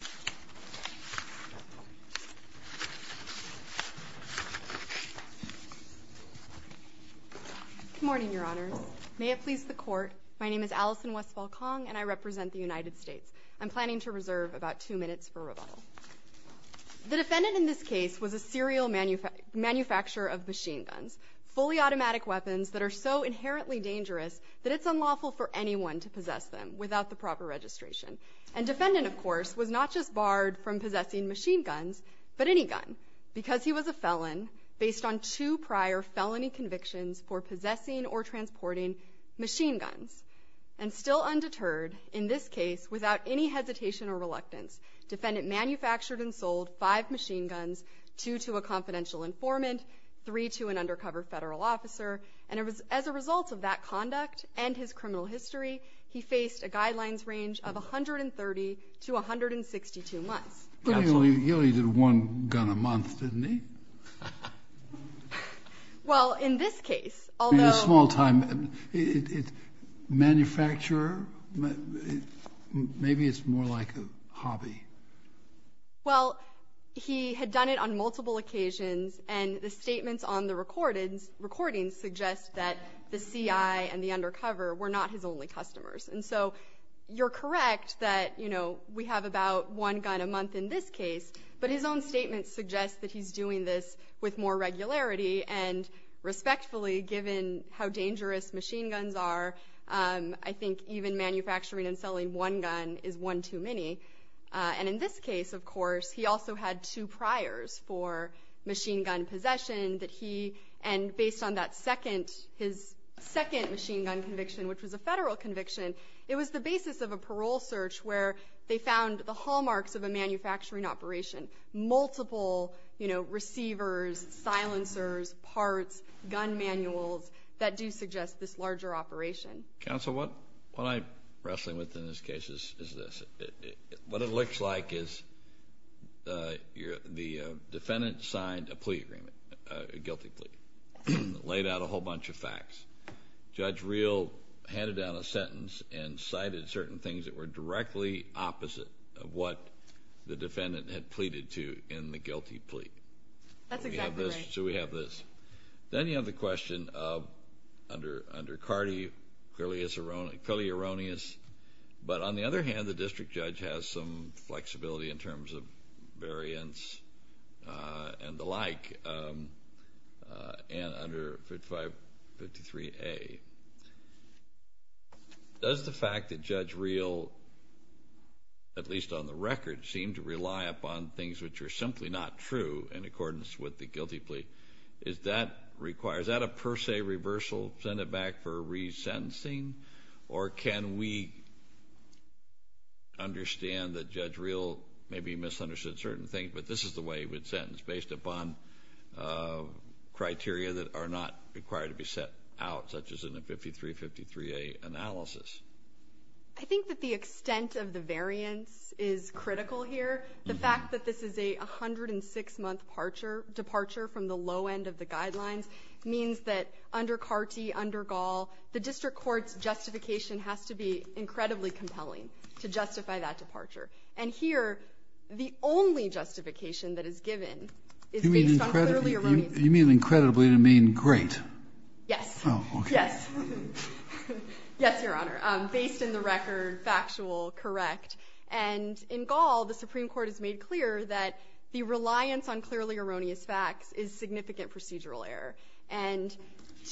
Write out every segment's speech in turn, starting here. Good morning, Your Honors. May it please the Court, my name is Allison Westfall-Kong and I represent the United States. I'm planning to reserve about two minutes for rebuttal. The defendant in this case was a serial manufacturer of machine guns, fully automatic weapons that are so inherently dangerous that it's unlawful for anyone to possess them without the proper registration. And defendant, of course, was not just barred from possessing machine guns, but any gun, because he was a felon based on two prior felony convictions for possessing or transporting machine guns. And still undeterred, in this case, without any hesitation or reluctance, defendant manufactured and sold five machine guns, two to a confidential informant, three to an undercover federal officer, and it was as a result of that conduct and his criminal history, he faced a guidelines range of 130 to 162 months. He only did one gun a month, didn't he? Well, in this case, although... In a small time, manufacturer, maybe it's more like a hobby. Well, he had done it on multiple occasions and the statements on the recordings suggest that the CI and the undercover were not his only customers. And so, you're correct that we have about one gun a month in this case, but his own statement suggests that he's doing this with more regularity and respectfully, given how dangerous machine guns are, I think even manufacturing and selling one gun is one too many. And in this case, of course, he also had two priors for machine gun possession that he... on that second, his second machine gun conviction, which was a federal conviction, it was the basis of a parole search where they found the hallmarks of a manufacturing operation. Multiple receivers, silencers, parts, gun manuals that do suggest this larger operation. Counsel, what I'm wrestling with in this case is this. What it looks like is the defendant signed a plea agreement, a guilty plea. Laid out a whole bunch of facts. Judge Reel handed down a sentence and cited certain things that were directly opposite of what the defendant had pleaded to in the guilty plea. That's exactly right. So we have this. Then you have the question of, under Cardi, clearly erroneous, but on the other hand, the district flexibility in terms of variance and the like, and under 5553A. Does the fact that Judge Reel, at least on the record, seemed to rely upon things which are simply not true in accordance with the guilty plea, is that a per se reversal? Send it back for resentencing? Or can we understand that Judge Reel maybe misunderstood certain things, but this is the way he would sentence, based upon criteria that are not required to be set out, such as in a 5353A analysis? I think that the extent of the variance is critical here. The fact that this is a 106-month departure from the low end of the under Gaul, the district court's justification has to be incredibly compelling to justify that departure. And here, the only justification that is given is based on clearly erroneous facts. You mean incredibly? You mean great? Yes. Oh, okay. Yes. Yes, Your Honor, based in the record, factual, correct. And in Gaul, the Supreme Court has made clear that the reliance on clearly erroneous facts is significant procedural error. And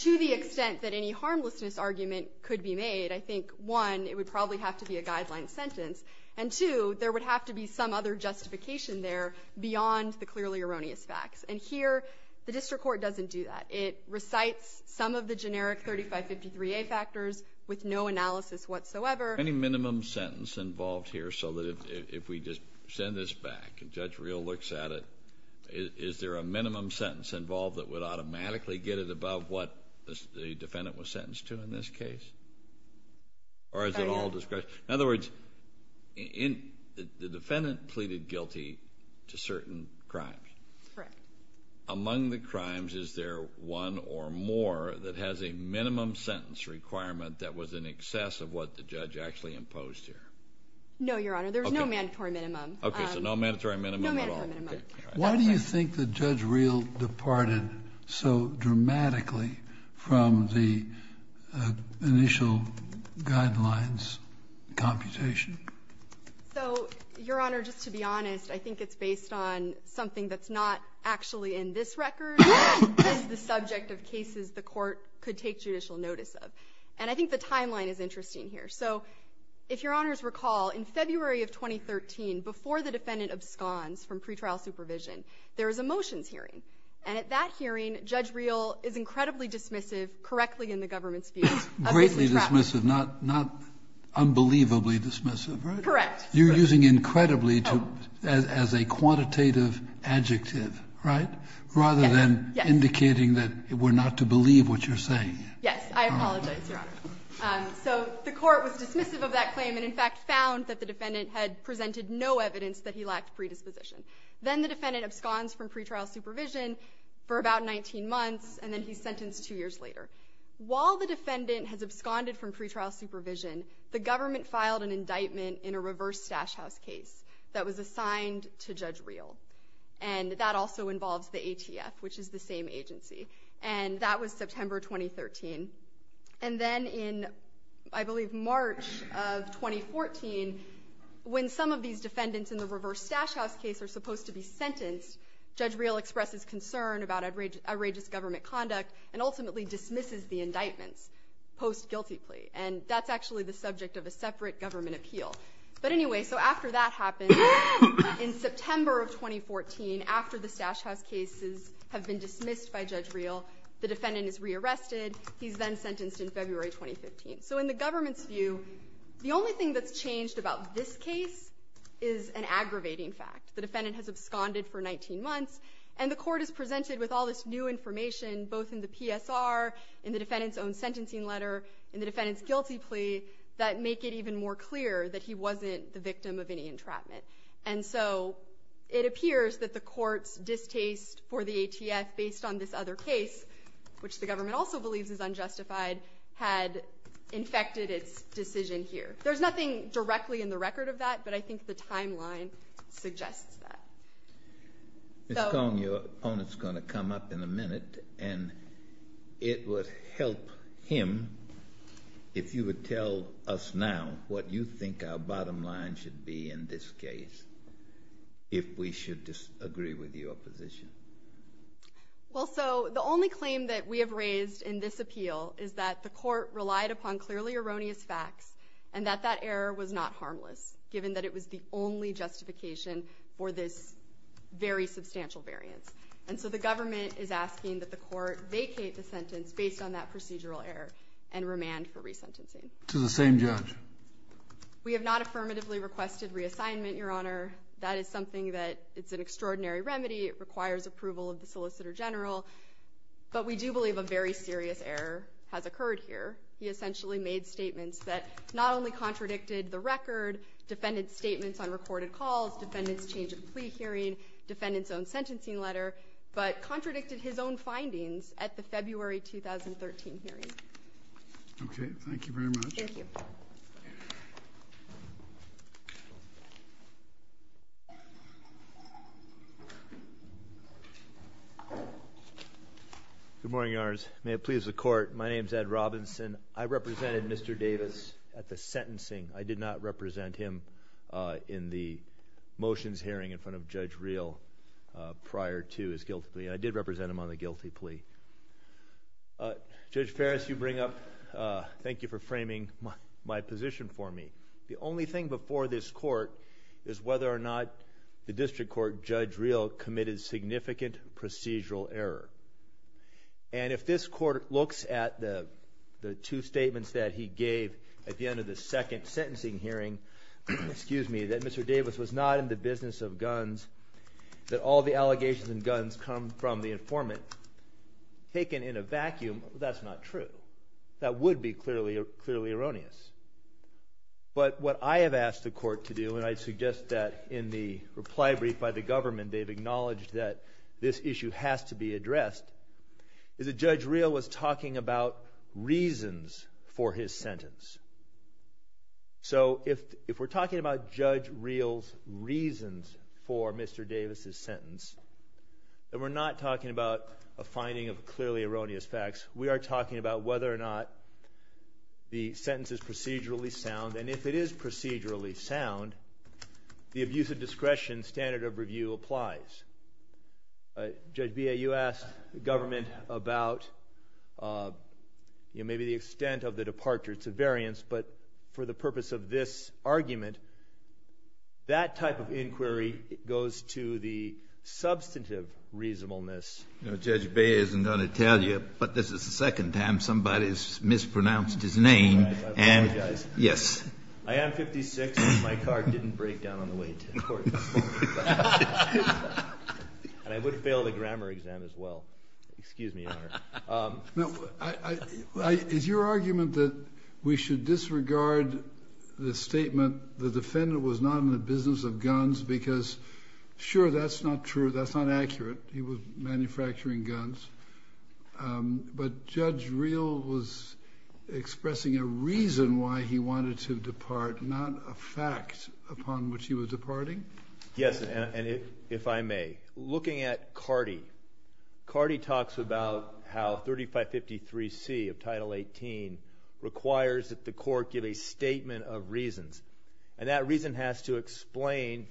to the extent that any harmlessness argument could be made, I think, one, it would probably have to be a guideline sentence, and two, there would have to be some other justification there beyond the clearly erroneous facts. And here, the district court doesn't do that. It recites some of the generic 3553A factors with no analysis whatsoever. Is there any minimum sentence involved here so that if we just send this back and Judge Reel looks at it, is there a minimum sentence involved that would automatically get it above what the defendant was sentenced to in this case? Or is it all discretion? In other words, the defendant pleaded guilty to certain crimes. Correct. Among the crimes, is there one or more that has a minimum sentence requirement that was in excess of what the judge actually imposed here? No, Your Honor, there's no mandatory minimum. Okay, so no mandatory minimum at all. No mandatory minimum. Why do you think that Judge Reel departed so dramatically from the initial guidelines computation? So, Your Honor, just to be honest, I think it's based on I think the timeline is interesting here. So, if Your Honors recall, in February of 2013, before the defendant absconds from pretrial supervision, there was a motions hearing. And at that hearing, Judge Reel is incredibly dismissive, correctly in the government's view. Greatly dismissive, not unbelievably dismissive, right? Correct. You're using incredibly as a quantitative adjective, right, rather than indicating that we're not to believe what you're saying. Yes, I apologize, Your Honor. So, the court was dismissive of that claim, and in fact found that the defendant had presented no evidence that he lacked predisposition. Then the defendant absconds from pretrial supervision for about 19 months, and then he's sentenced two years later. While the defendant has absconded from pretrial supervision, the government filed an indictment in a reverse stash house case that was assigned to Judge Reel. And that also involves the ATF, which is the same agency. And that was September 2013. And then in, I believe, March of 2014, when some of these defendants in the reverse stash house case are supposed to be sentenced, Judge Reel expresses concern about outrageous government conduct, and ultimately dismisses the indictments post-guilty plea. And that's actually the subject of a separate government appeal. But anyway, so after that happened, in September of 2014, after the stash house cases have been dismissed by Judge Reel, the defendant is re-arrested. He's then sentenced in February 2015. So in the government's view, the only thing that's changed about this case is an aggravating fact. The defendant has absconded for 19 months, and the court has presented with all this new information, both in the PSR, in the defendant's own sentencing letter, in the defendant's guilty plea, that make it even more clear that he wasn't the victim of any entrapment. And so it appears that the court's distaste for the ATF, based on this other case, which the government also believes is unjustified, had infected its decision here. There's nothing directly in the record of that, but I think the timeline suggests that. Ms. Kong, your opponent's going to come up in a minute, and it would help him if you would tell us now what you think our bottom line should be in this case, if we should disagree with your position. Well, so the only claim that we have raised in this appeal is that the court relied upon clearly erroneous facts, and that that error was not very substantial variance. And so the government is asking that the court vacate the sentence based on that procedural error, and remand for resentencing. To the same judge. We have not affirmatively requested reassignment, Your Honor. That is something that is an extraordinary remedy. It requires approval of the Solicitor General. But we do believe a very serious error has occurred here. He essentially made statements that not only contradicted the record, defendant's statements on recorded calls, defendant's change of plea hearing, defendant's own sentencing letter, but contradicted his own findings at the February 2013 hearing. Okay. Thank you very much. Thank you. Good morning, Your Honors. May it please the court, my name is Ed Robinson. I represented Mr. Davis at the sentencing. I did not represent him in the motions hearing in front of Judge Reel prior to his guilty plea. I did represent him on the guilty plea. Judge Ferris, you bring up, thank you for framing my position for me. The only thing before this court is whether or not the district court, Judge Reel, committed significant procedural error. And if this court looks at the two statements that he gave at the end of the second sentencing hearing, excuse me, that Mr. Davis, the allegations and guns come from the informant, taken in a vacuum, that's not true. That would be clearly erroneous. But what I have asked the court to do, and I suggest that in the reply brief by the government they've acknowledged that this issue has to be addressed, is that Judge Reel was talking about reasons for his sentence. So if we're talking about Judge Reel's reasons for Mr. Davis's sentence, then we're not talking about a finding of clearly erroneous facts. We are talking about whether or not the sentence is procedurally sound. And if it is procedurally sound, the abuse of discretion standard of review applies. Judge Bea, you asked the government about maybe the extent of the departure. It's a variance. But for the purpose of this argument, that type of inquiry goes to the substantive reasonableness. Judge Bea isn't going to tell you, but this is the second time somebody's mispronounced his name. I apologize. Yes. I am 56, and my car didn't break down on the way to court this morning. And I would fail the grammar exam as well. Excuse me, Your Honor. Is your argument that we should disregard the statement, the defendant was not in the business of guns, because sure, that's not true, that's not accurate, he was supposed to depart, not a fact upon which he was departing? Yes, and if I may, looking at Carty, Carty talks about how 3553C of Title 18 requires that the court give a statement of reasons. And that reason has to occur, and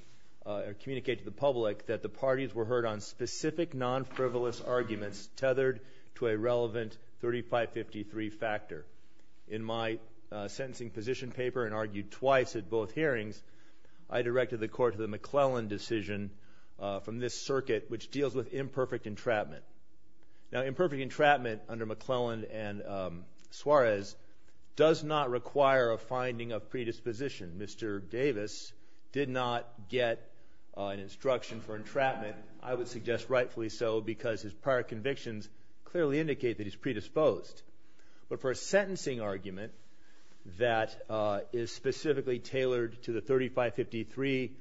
argued twice at both hearings, I directed the court to the McClellan decision from this circuit, which deals with imperfect entrapment. Now, imperfect entrapment under McClellan and Suarez does not require a finding of predisposition. Mr. Davis did not get an instruction for entrapment. And I would suggest rightfully so, because his prior convictions clearly indicate that he's predisposed. But for a sentencing argument that is specifically tailored to the 3553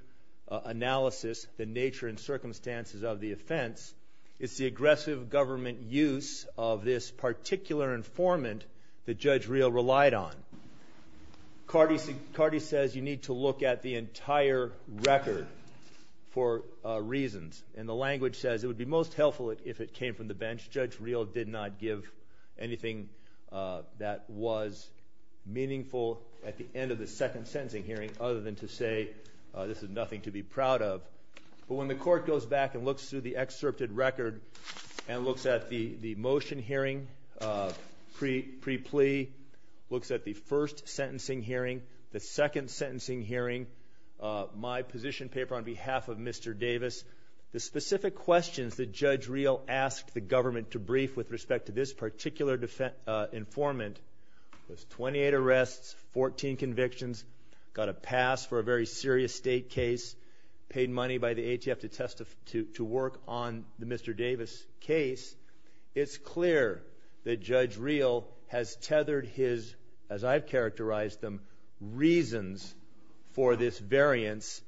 analysis, the nature and circumstances of the offense, it's the aggressive government use of this particular informant that Judge Reel did not give a clear record for reasons. And the language says, it would be most helpful if it came from the bench. Judge Reel did not give anything that was meaningful at the end of the second sentencing hearing, other than to say, this is nothing to be proud of. But when the court goes back and looks through the second sentencing hearing, my position paper on behalf of Mr. Davis, the specific questions that Judge Reel asked the government to brief with respect to this particular informant was 28 arrests, 14 convictions, got a pass for a very serious state case, paid money by the ATF to work on the Mr. Davis case. It's clear that Judge Reel has tethered his, as I've characterized them, reasons for this variance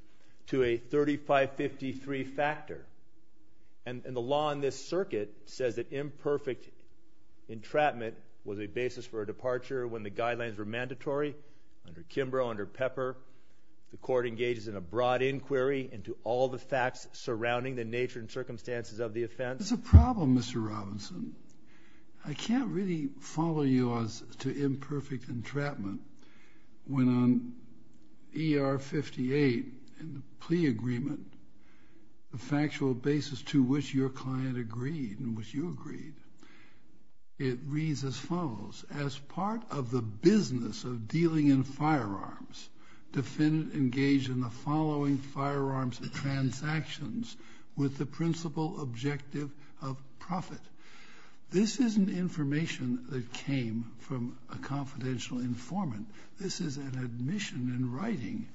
to a 3553 factor. And the law in this circuit says that imperfect entrapment was a basis for a departure when the guidelines were mandatory under Kimbrough, under Pepper. The court engages in a broad inquiry into all the I can't really follow you as to imperfect entrapment when on ER 58 in the plea agreement, the factual basis to which your client agreed and which you agreed, it reads as This isn't information that came from a confidential informant. This is an admission in writing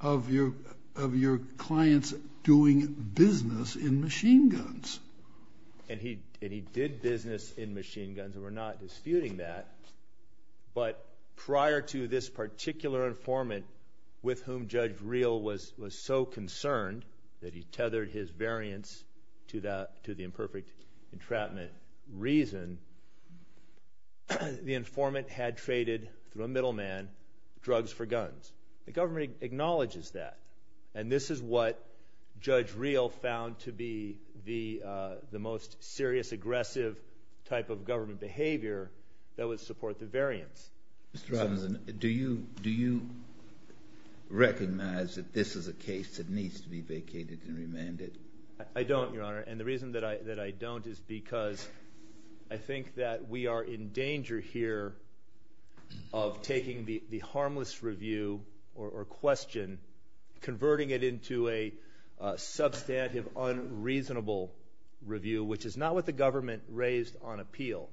of your client's doing business in machine guns. And he did business in machine guns, and we're not disputing that. But prior to this particular informant with whom Judge Reel was so concerned that he tethered his variance to the imperfect entrapment reason, the informant had traded, through a middleman, drugs for guns. The government acknowledges that. And this is what aggressive type of government behavior that would support the variance. Mr. Robinson, do you recognize that this is a case that needs to be vacated and remanded? I don't, Your Honor, and the reason that I don't is because I think that we are in danger here of taking the harmless review or question, converting it into a substantive, unreasonable review, which is not what the government raised on appeal.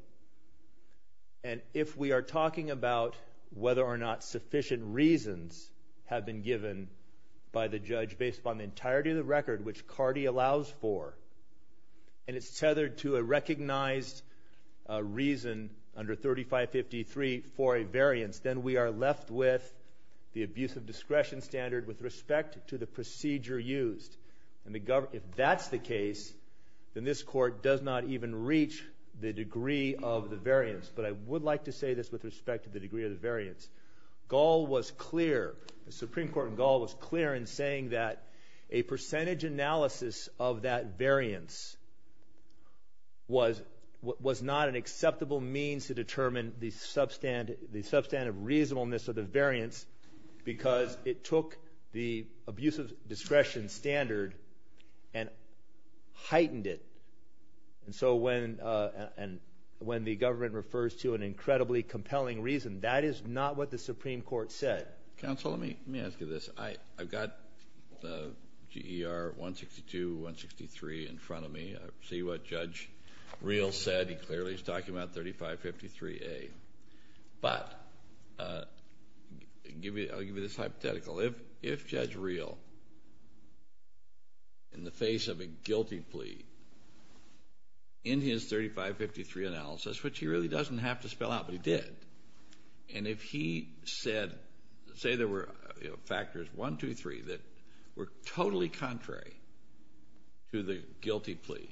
And if we are talking about whether or not sufficient reasons have been given by the judge based upon the entirety of the record, which Cardi allows for, and it's tethered to a recognized reason under 3553 for a variance, then we are left with the abuse of discretion standard with respect to the procedure used. If that's the case, then this Court does not even reach the degree of the saying that a percentage analysis of that variance was not an acceptable means to determine the substantive reasonableness of the variance because it took the abuse of discretion standard and heightened it. And so when the government refers to an incredibly compelling reason, that is not what the Supreme Court said. Counsel, let me ask you this. I've got GER 162, 163 in front of me. I see what Judge Reel said. He clearly is talking about 3553A. But I'll give you this say there were factors 1, 2, 3 that were totally contrary to the guilty plea,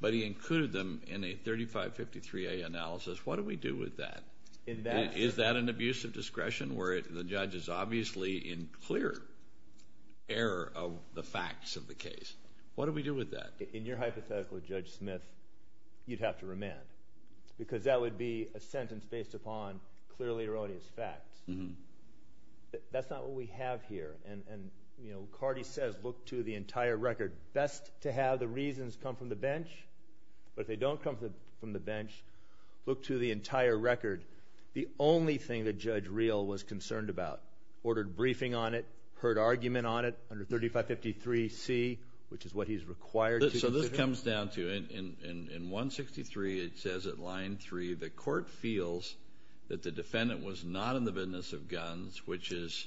but he included them in a 3553A analysis. What do we do with that? Is that an abuse of discretion where the judge is obviously in clear error of the facts of the case? What do we do with that? In your hypothetical, Judge Smith, you'd have to That's not what we have here. And Carty says look to the entire record. Best to have the reasons come from the bench. But if they don't come from the bench, look to the entire record. The only thing that Judge Reel was concerned about, ordered briefing on it, heard argument on it, under 3553C, which is what he's required to the court feels that the defendant was not in the business of guns, which is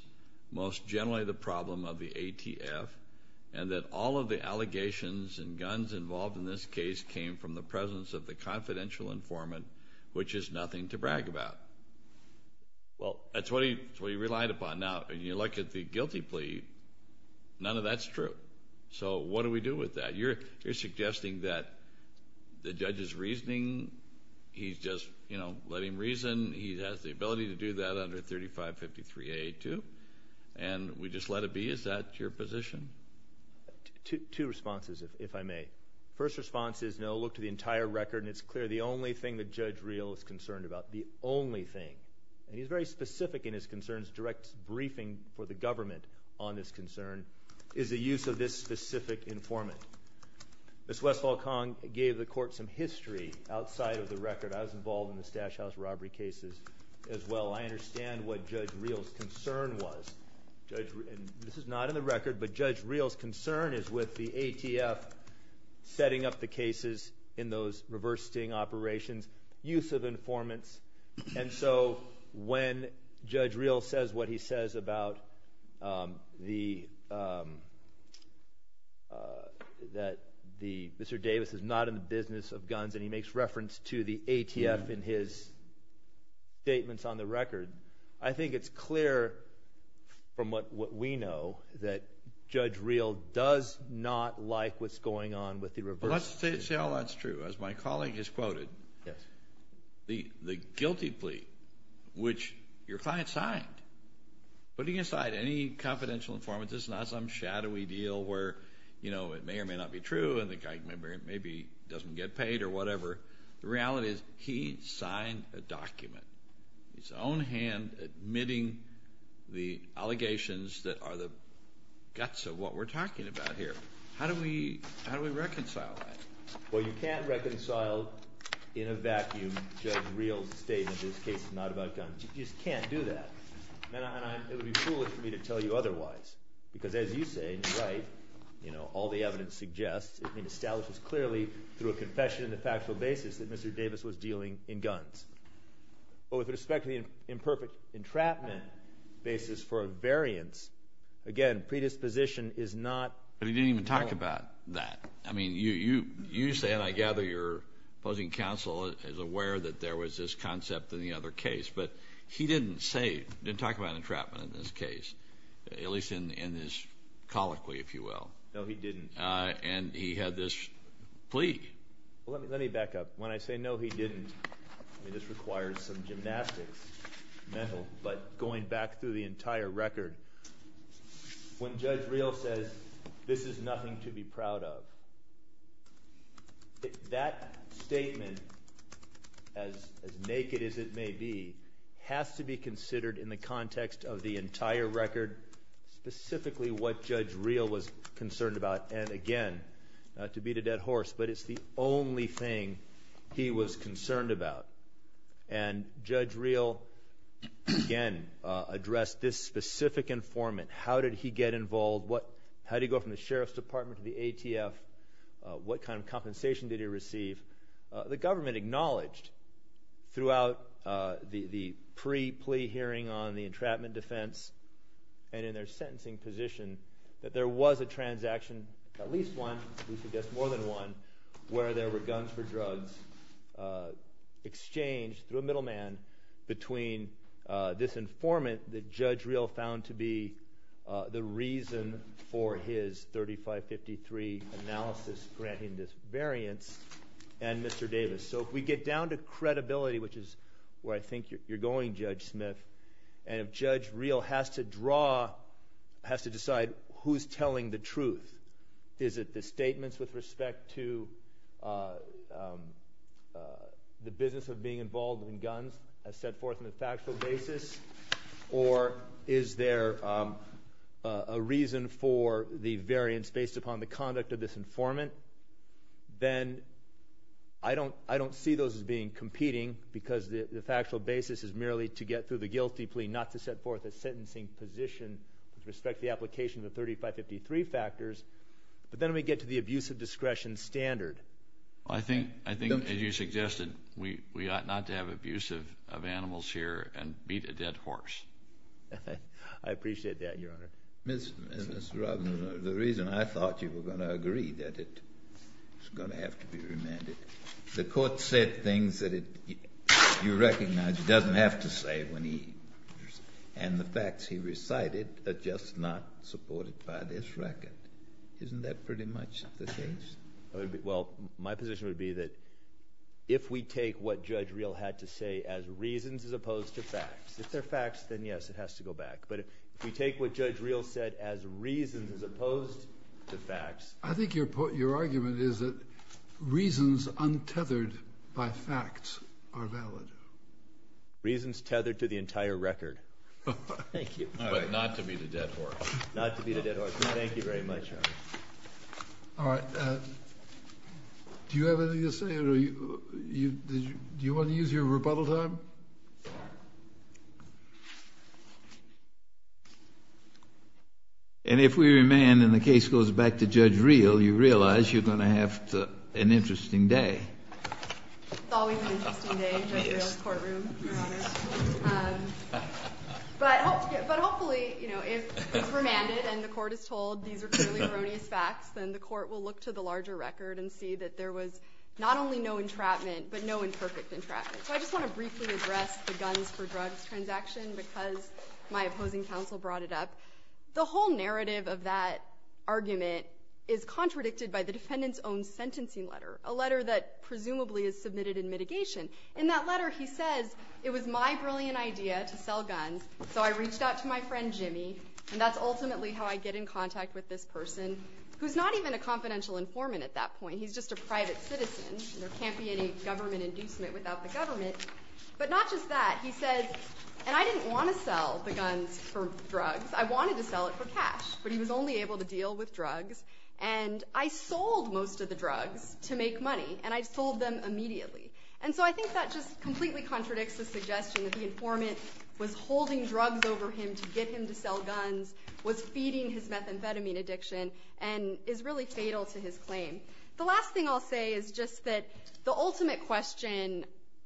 most generally the problem of the ATF, and that all of the allegations and guns involved in this case came from the presence of the confidential informant, which is nothing to brag about. Well, that's what he relied upon. Now, when you look at the guilty plea, none of that's So what do we do with that? You're suggesting that the judge is reasoning, he's just, you know, let him reason, he has the ability to do that under 3553A too, and we just let it be? Is that your position? Two responses, if I may. First response is no, look to the entire record, and it's clear the only thing that Judge Reel is concerned about, the only thing, and he's very specific in his concerns, direct briefing for the government on this concern, is the use of this specific informant. Ms. Westphal-Kong gave the court some history outside of the record. I was involved in the Stash House robbery cases as well. I understand what Judge Reel's concern was. This is not in the record, but Judge Reel's concern is with the ATF setting up the cases in those reverse sting operations, use of informants, and so when Judge Reel says what he says about Mr. Davis is not in the business of guns and he makes reference to the ATF in his statements on the record, I think it's clear from what we know that Judge Reel does not like what's going on with the reverse. Well, let's say all that's true. As my colleague has quoted, the guilty plea, which your client signed, putting aside any confidential informant, this is not some shadowy deal where it may or may not be true and the guy maybe doesn't get paid or whatever. The reality is he signed a document, his own hand admitting the allegations that are the guts of what we're talking about here. How do we reconcile that? Well, you can't reconcile in a vacuum Judge Reel's statement that this case is not about guns. You just can't do that. And it would be foolish for me to tell you otherwise. Because as you say in your right, all the evidence suggests, it establishes clearly through a confession in the factual basis that Mr. Davis was dealing in guns. But with respect to the imperfect entrapment basis for a variance, again, predisposition is not— But he didn't even talk about that. I mean, you say, and I gather your opposing counsel is aware that there was this concept in the other case. But he didn't say, didn't talk about entrapment in this case, at least in his colloquy, if you will. No, he didn't. And he had this plea. Let me back up. When I say, no, he didn't, I mean, this requires some gymnastics, mental, but going back through the entire record, when Judge Reel says, this is nothing to be proud of, that statement, as naked as it may be, has to be considered in the context of the entire record, specifically what Judge Reel was concerned about. And again, not to beat a dead horse, but it's the only thing he was concerned about. And Judge Reel, again, addressed this specific informant. How did he get involved? How did he go from the Sheriff's Department to the ATF? What kind of compensation did he receive? The government acknowledged throughout the pre-plea hearing on the entrapment defense and in their sentencing position that there was a transaction, at least one, we should guess more than one, where there were guns for drugs exchanged through a middleman between this informant that Judge Reel found to be the reason for his 3553 analysis granting this variance and Mr. Davis. So if we get down to credibility, which is where I think you're going, Judge Smith, and if Judge Reel has to draw, has to decide who's telling the truth, is it the statements with respect to the business of being involved in guns as set forth in the factual basis, or is there a reason for the variance based upon the conduct of this informant, then I don't see those as being competing because the factual basis is merely to get through the guilty plea, not to set forth a sentencing position with respect to the application of the 3553 factors. But then we get to the abuse of discretion standard. I think, as you suggested, we ought not to have abuse of animals here and beat a dead horse. I appreciate that, Your Honor. Mr. Robinson, the reason I thought you were going to agree that it's going to have to be remanded, the court said things that you recognize it doesn't have to say when he, and the facts he recited are just not supported by this record. Isn't that pretty much the case? Well, my position would be that if we take what Judge Reel had to say as reasons as opposed to facts, if they're facts, then yes, it has to go back. But if we take what Judge Reel said as reasons as opposed to facts. I think your argument is that reasons untethered by facts are valid. Reasons tethered to the entire record. Thank you. But not to beat a dead horse. Not to beat a dead horse. Thank you very much, Your Honor. All right. Do you have anything to say? Do you want to use your rebuttal time? And if we remand and the case goes back to Judge Reel, you realize you're going to have an interesting day. It's always an interesting day in Judge Reel's courtroom, Your Honor. But hopefully, you know, if it's remanded and the court is told these are clearly erroneous facts, then the court will look to the larger record and see that there was not only no entrapment but no imperfect entrapment. So I just want to briefly address the guns for drugs transaction because my opposing counsel brought it up. The whole narrative of that argument is contradicted by the defendant's own sentencing letter, a letter that presumably is submitted in mitigation. In that letter, he says it was my brilliant idea to sell guns, so I reached out to my friend Jimmy, and that's ultimately how I get in contact with this person who's not even a confidential informant at that point. He's just a private citizen. There can't be any government inducement without the government. But not just that. He says, and I didn't want to sell the guns for drugs. I wanted to sell it for cash, but he was only able to deal with drugs. And I sold most of the drugs to make money, and I sold them immediately. And so I think that just completely contradicts the suggestion that the informant was holding drugs over him to get him to sell guns, was feeding his methamphetamine addiction, and is really fatal to his claim. The last thing I'll say is just that the ultimate question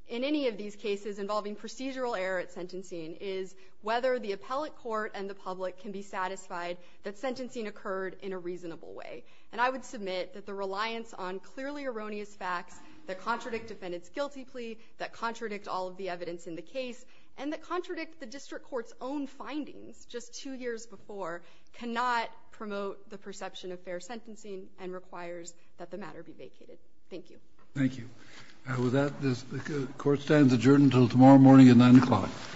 in any of these cases involving procedural error at sentencing is whether the appellate court and the public can be satisfied that sentencing occurred in a reasonable way. And I would submit that the reliance on clearly erroneous facts that contradict defendant's guilty plea, that contradict all of the evidence in the case, and that contradict the district court's own findings just two years before, cannot promote the perception of fair sentencing and requires that the matter be vacated. Thank you. Thank you. With that, the court stands adjourned until tomorrow morning at 9 o'clock.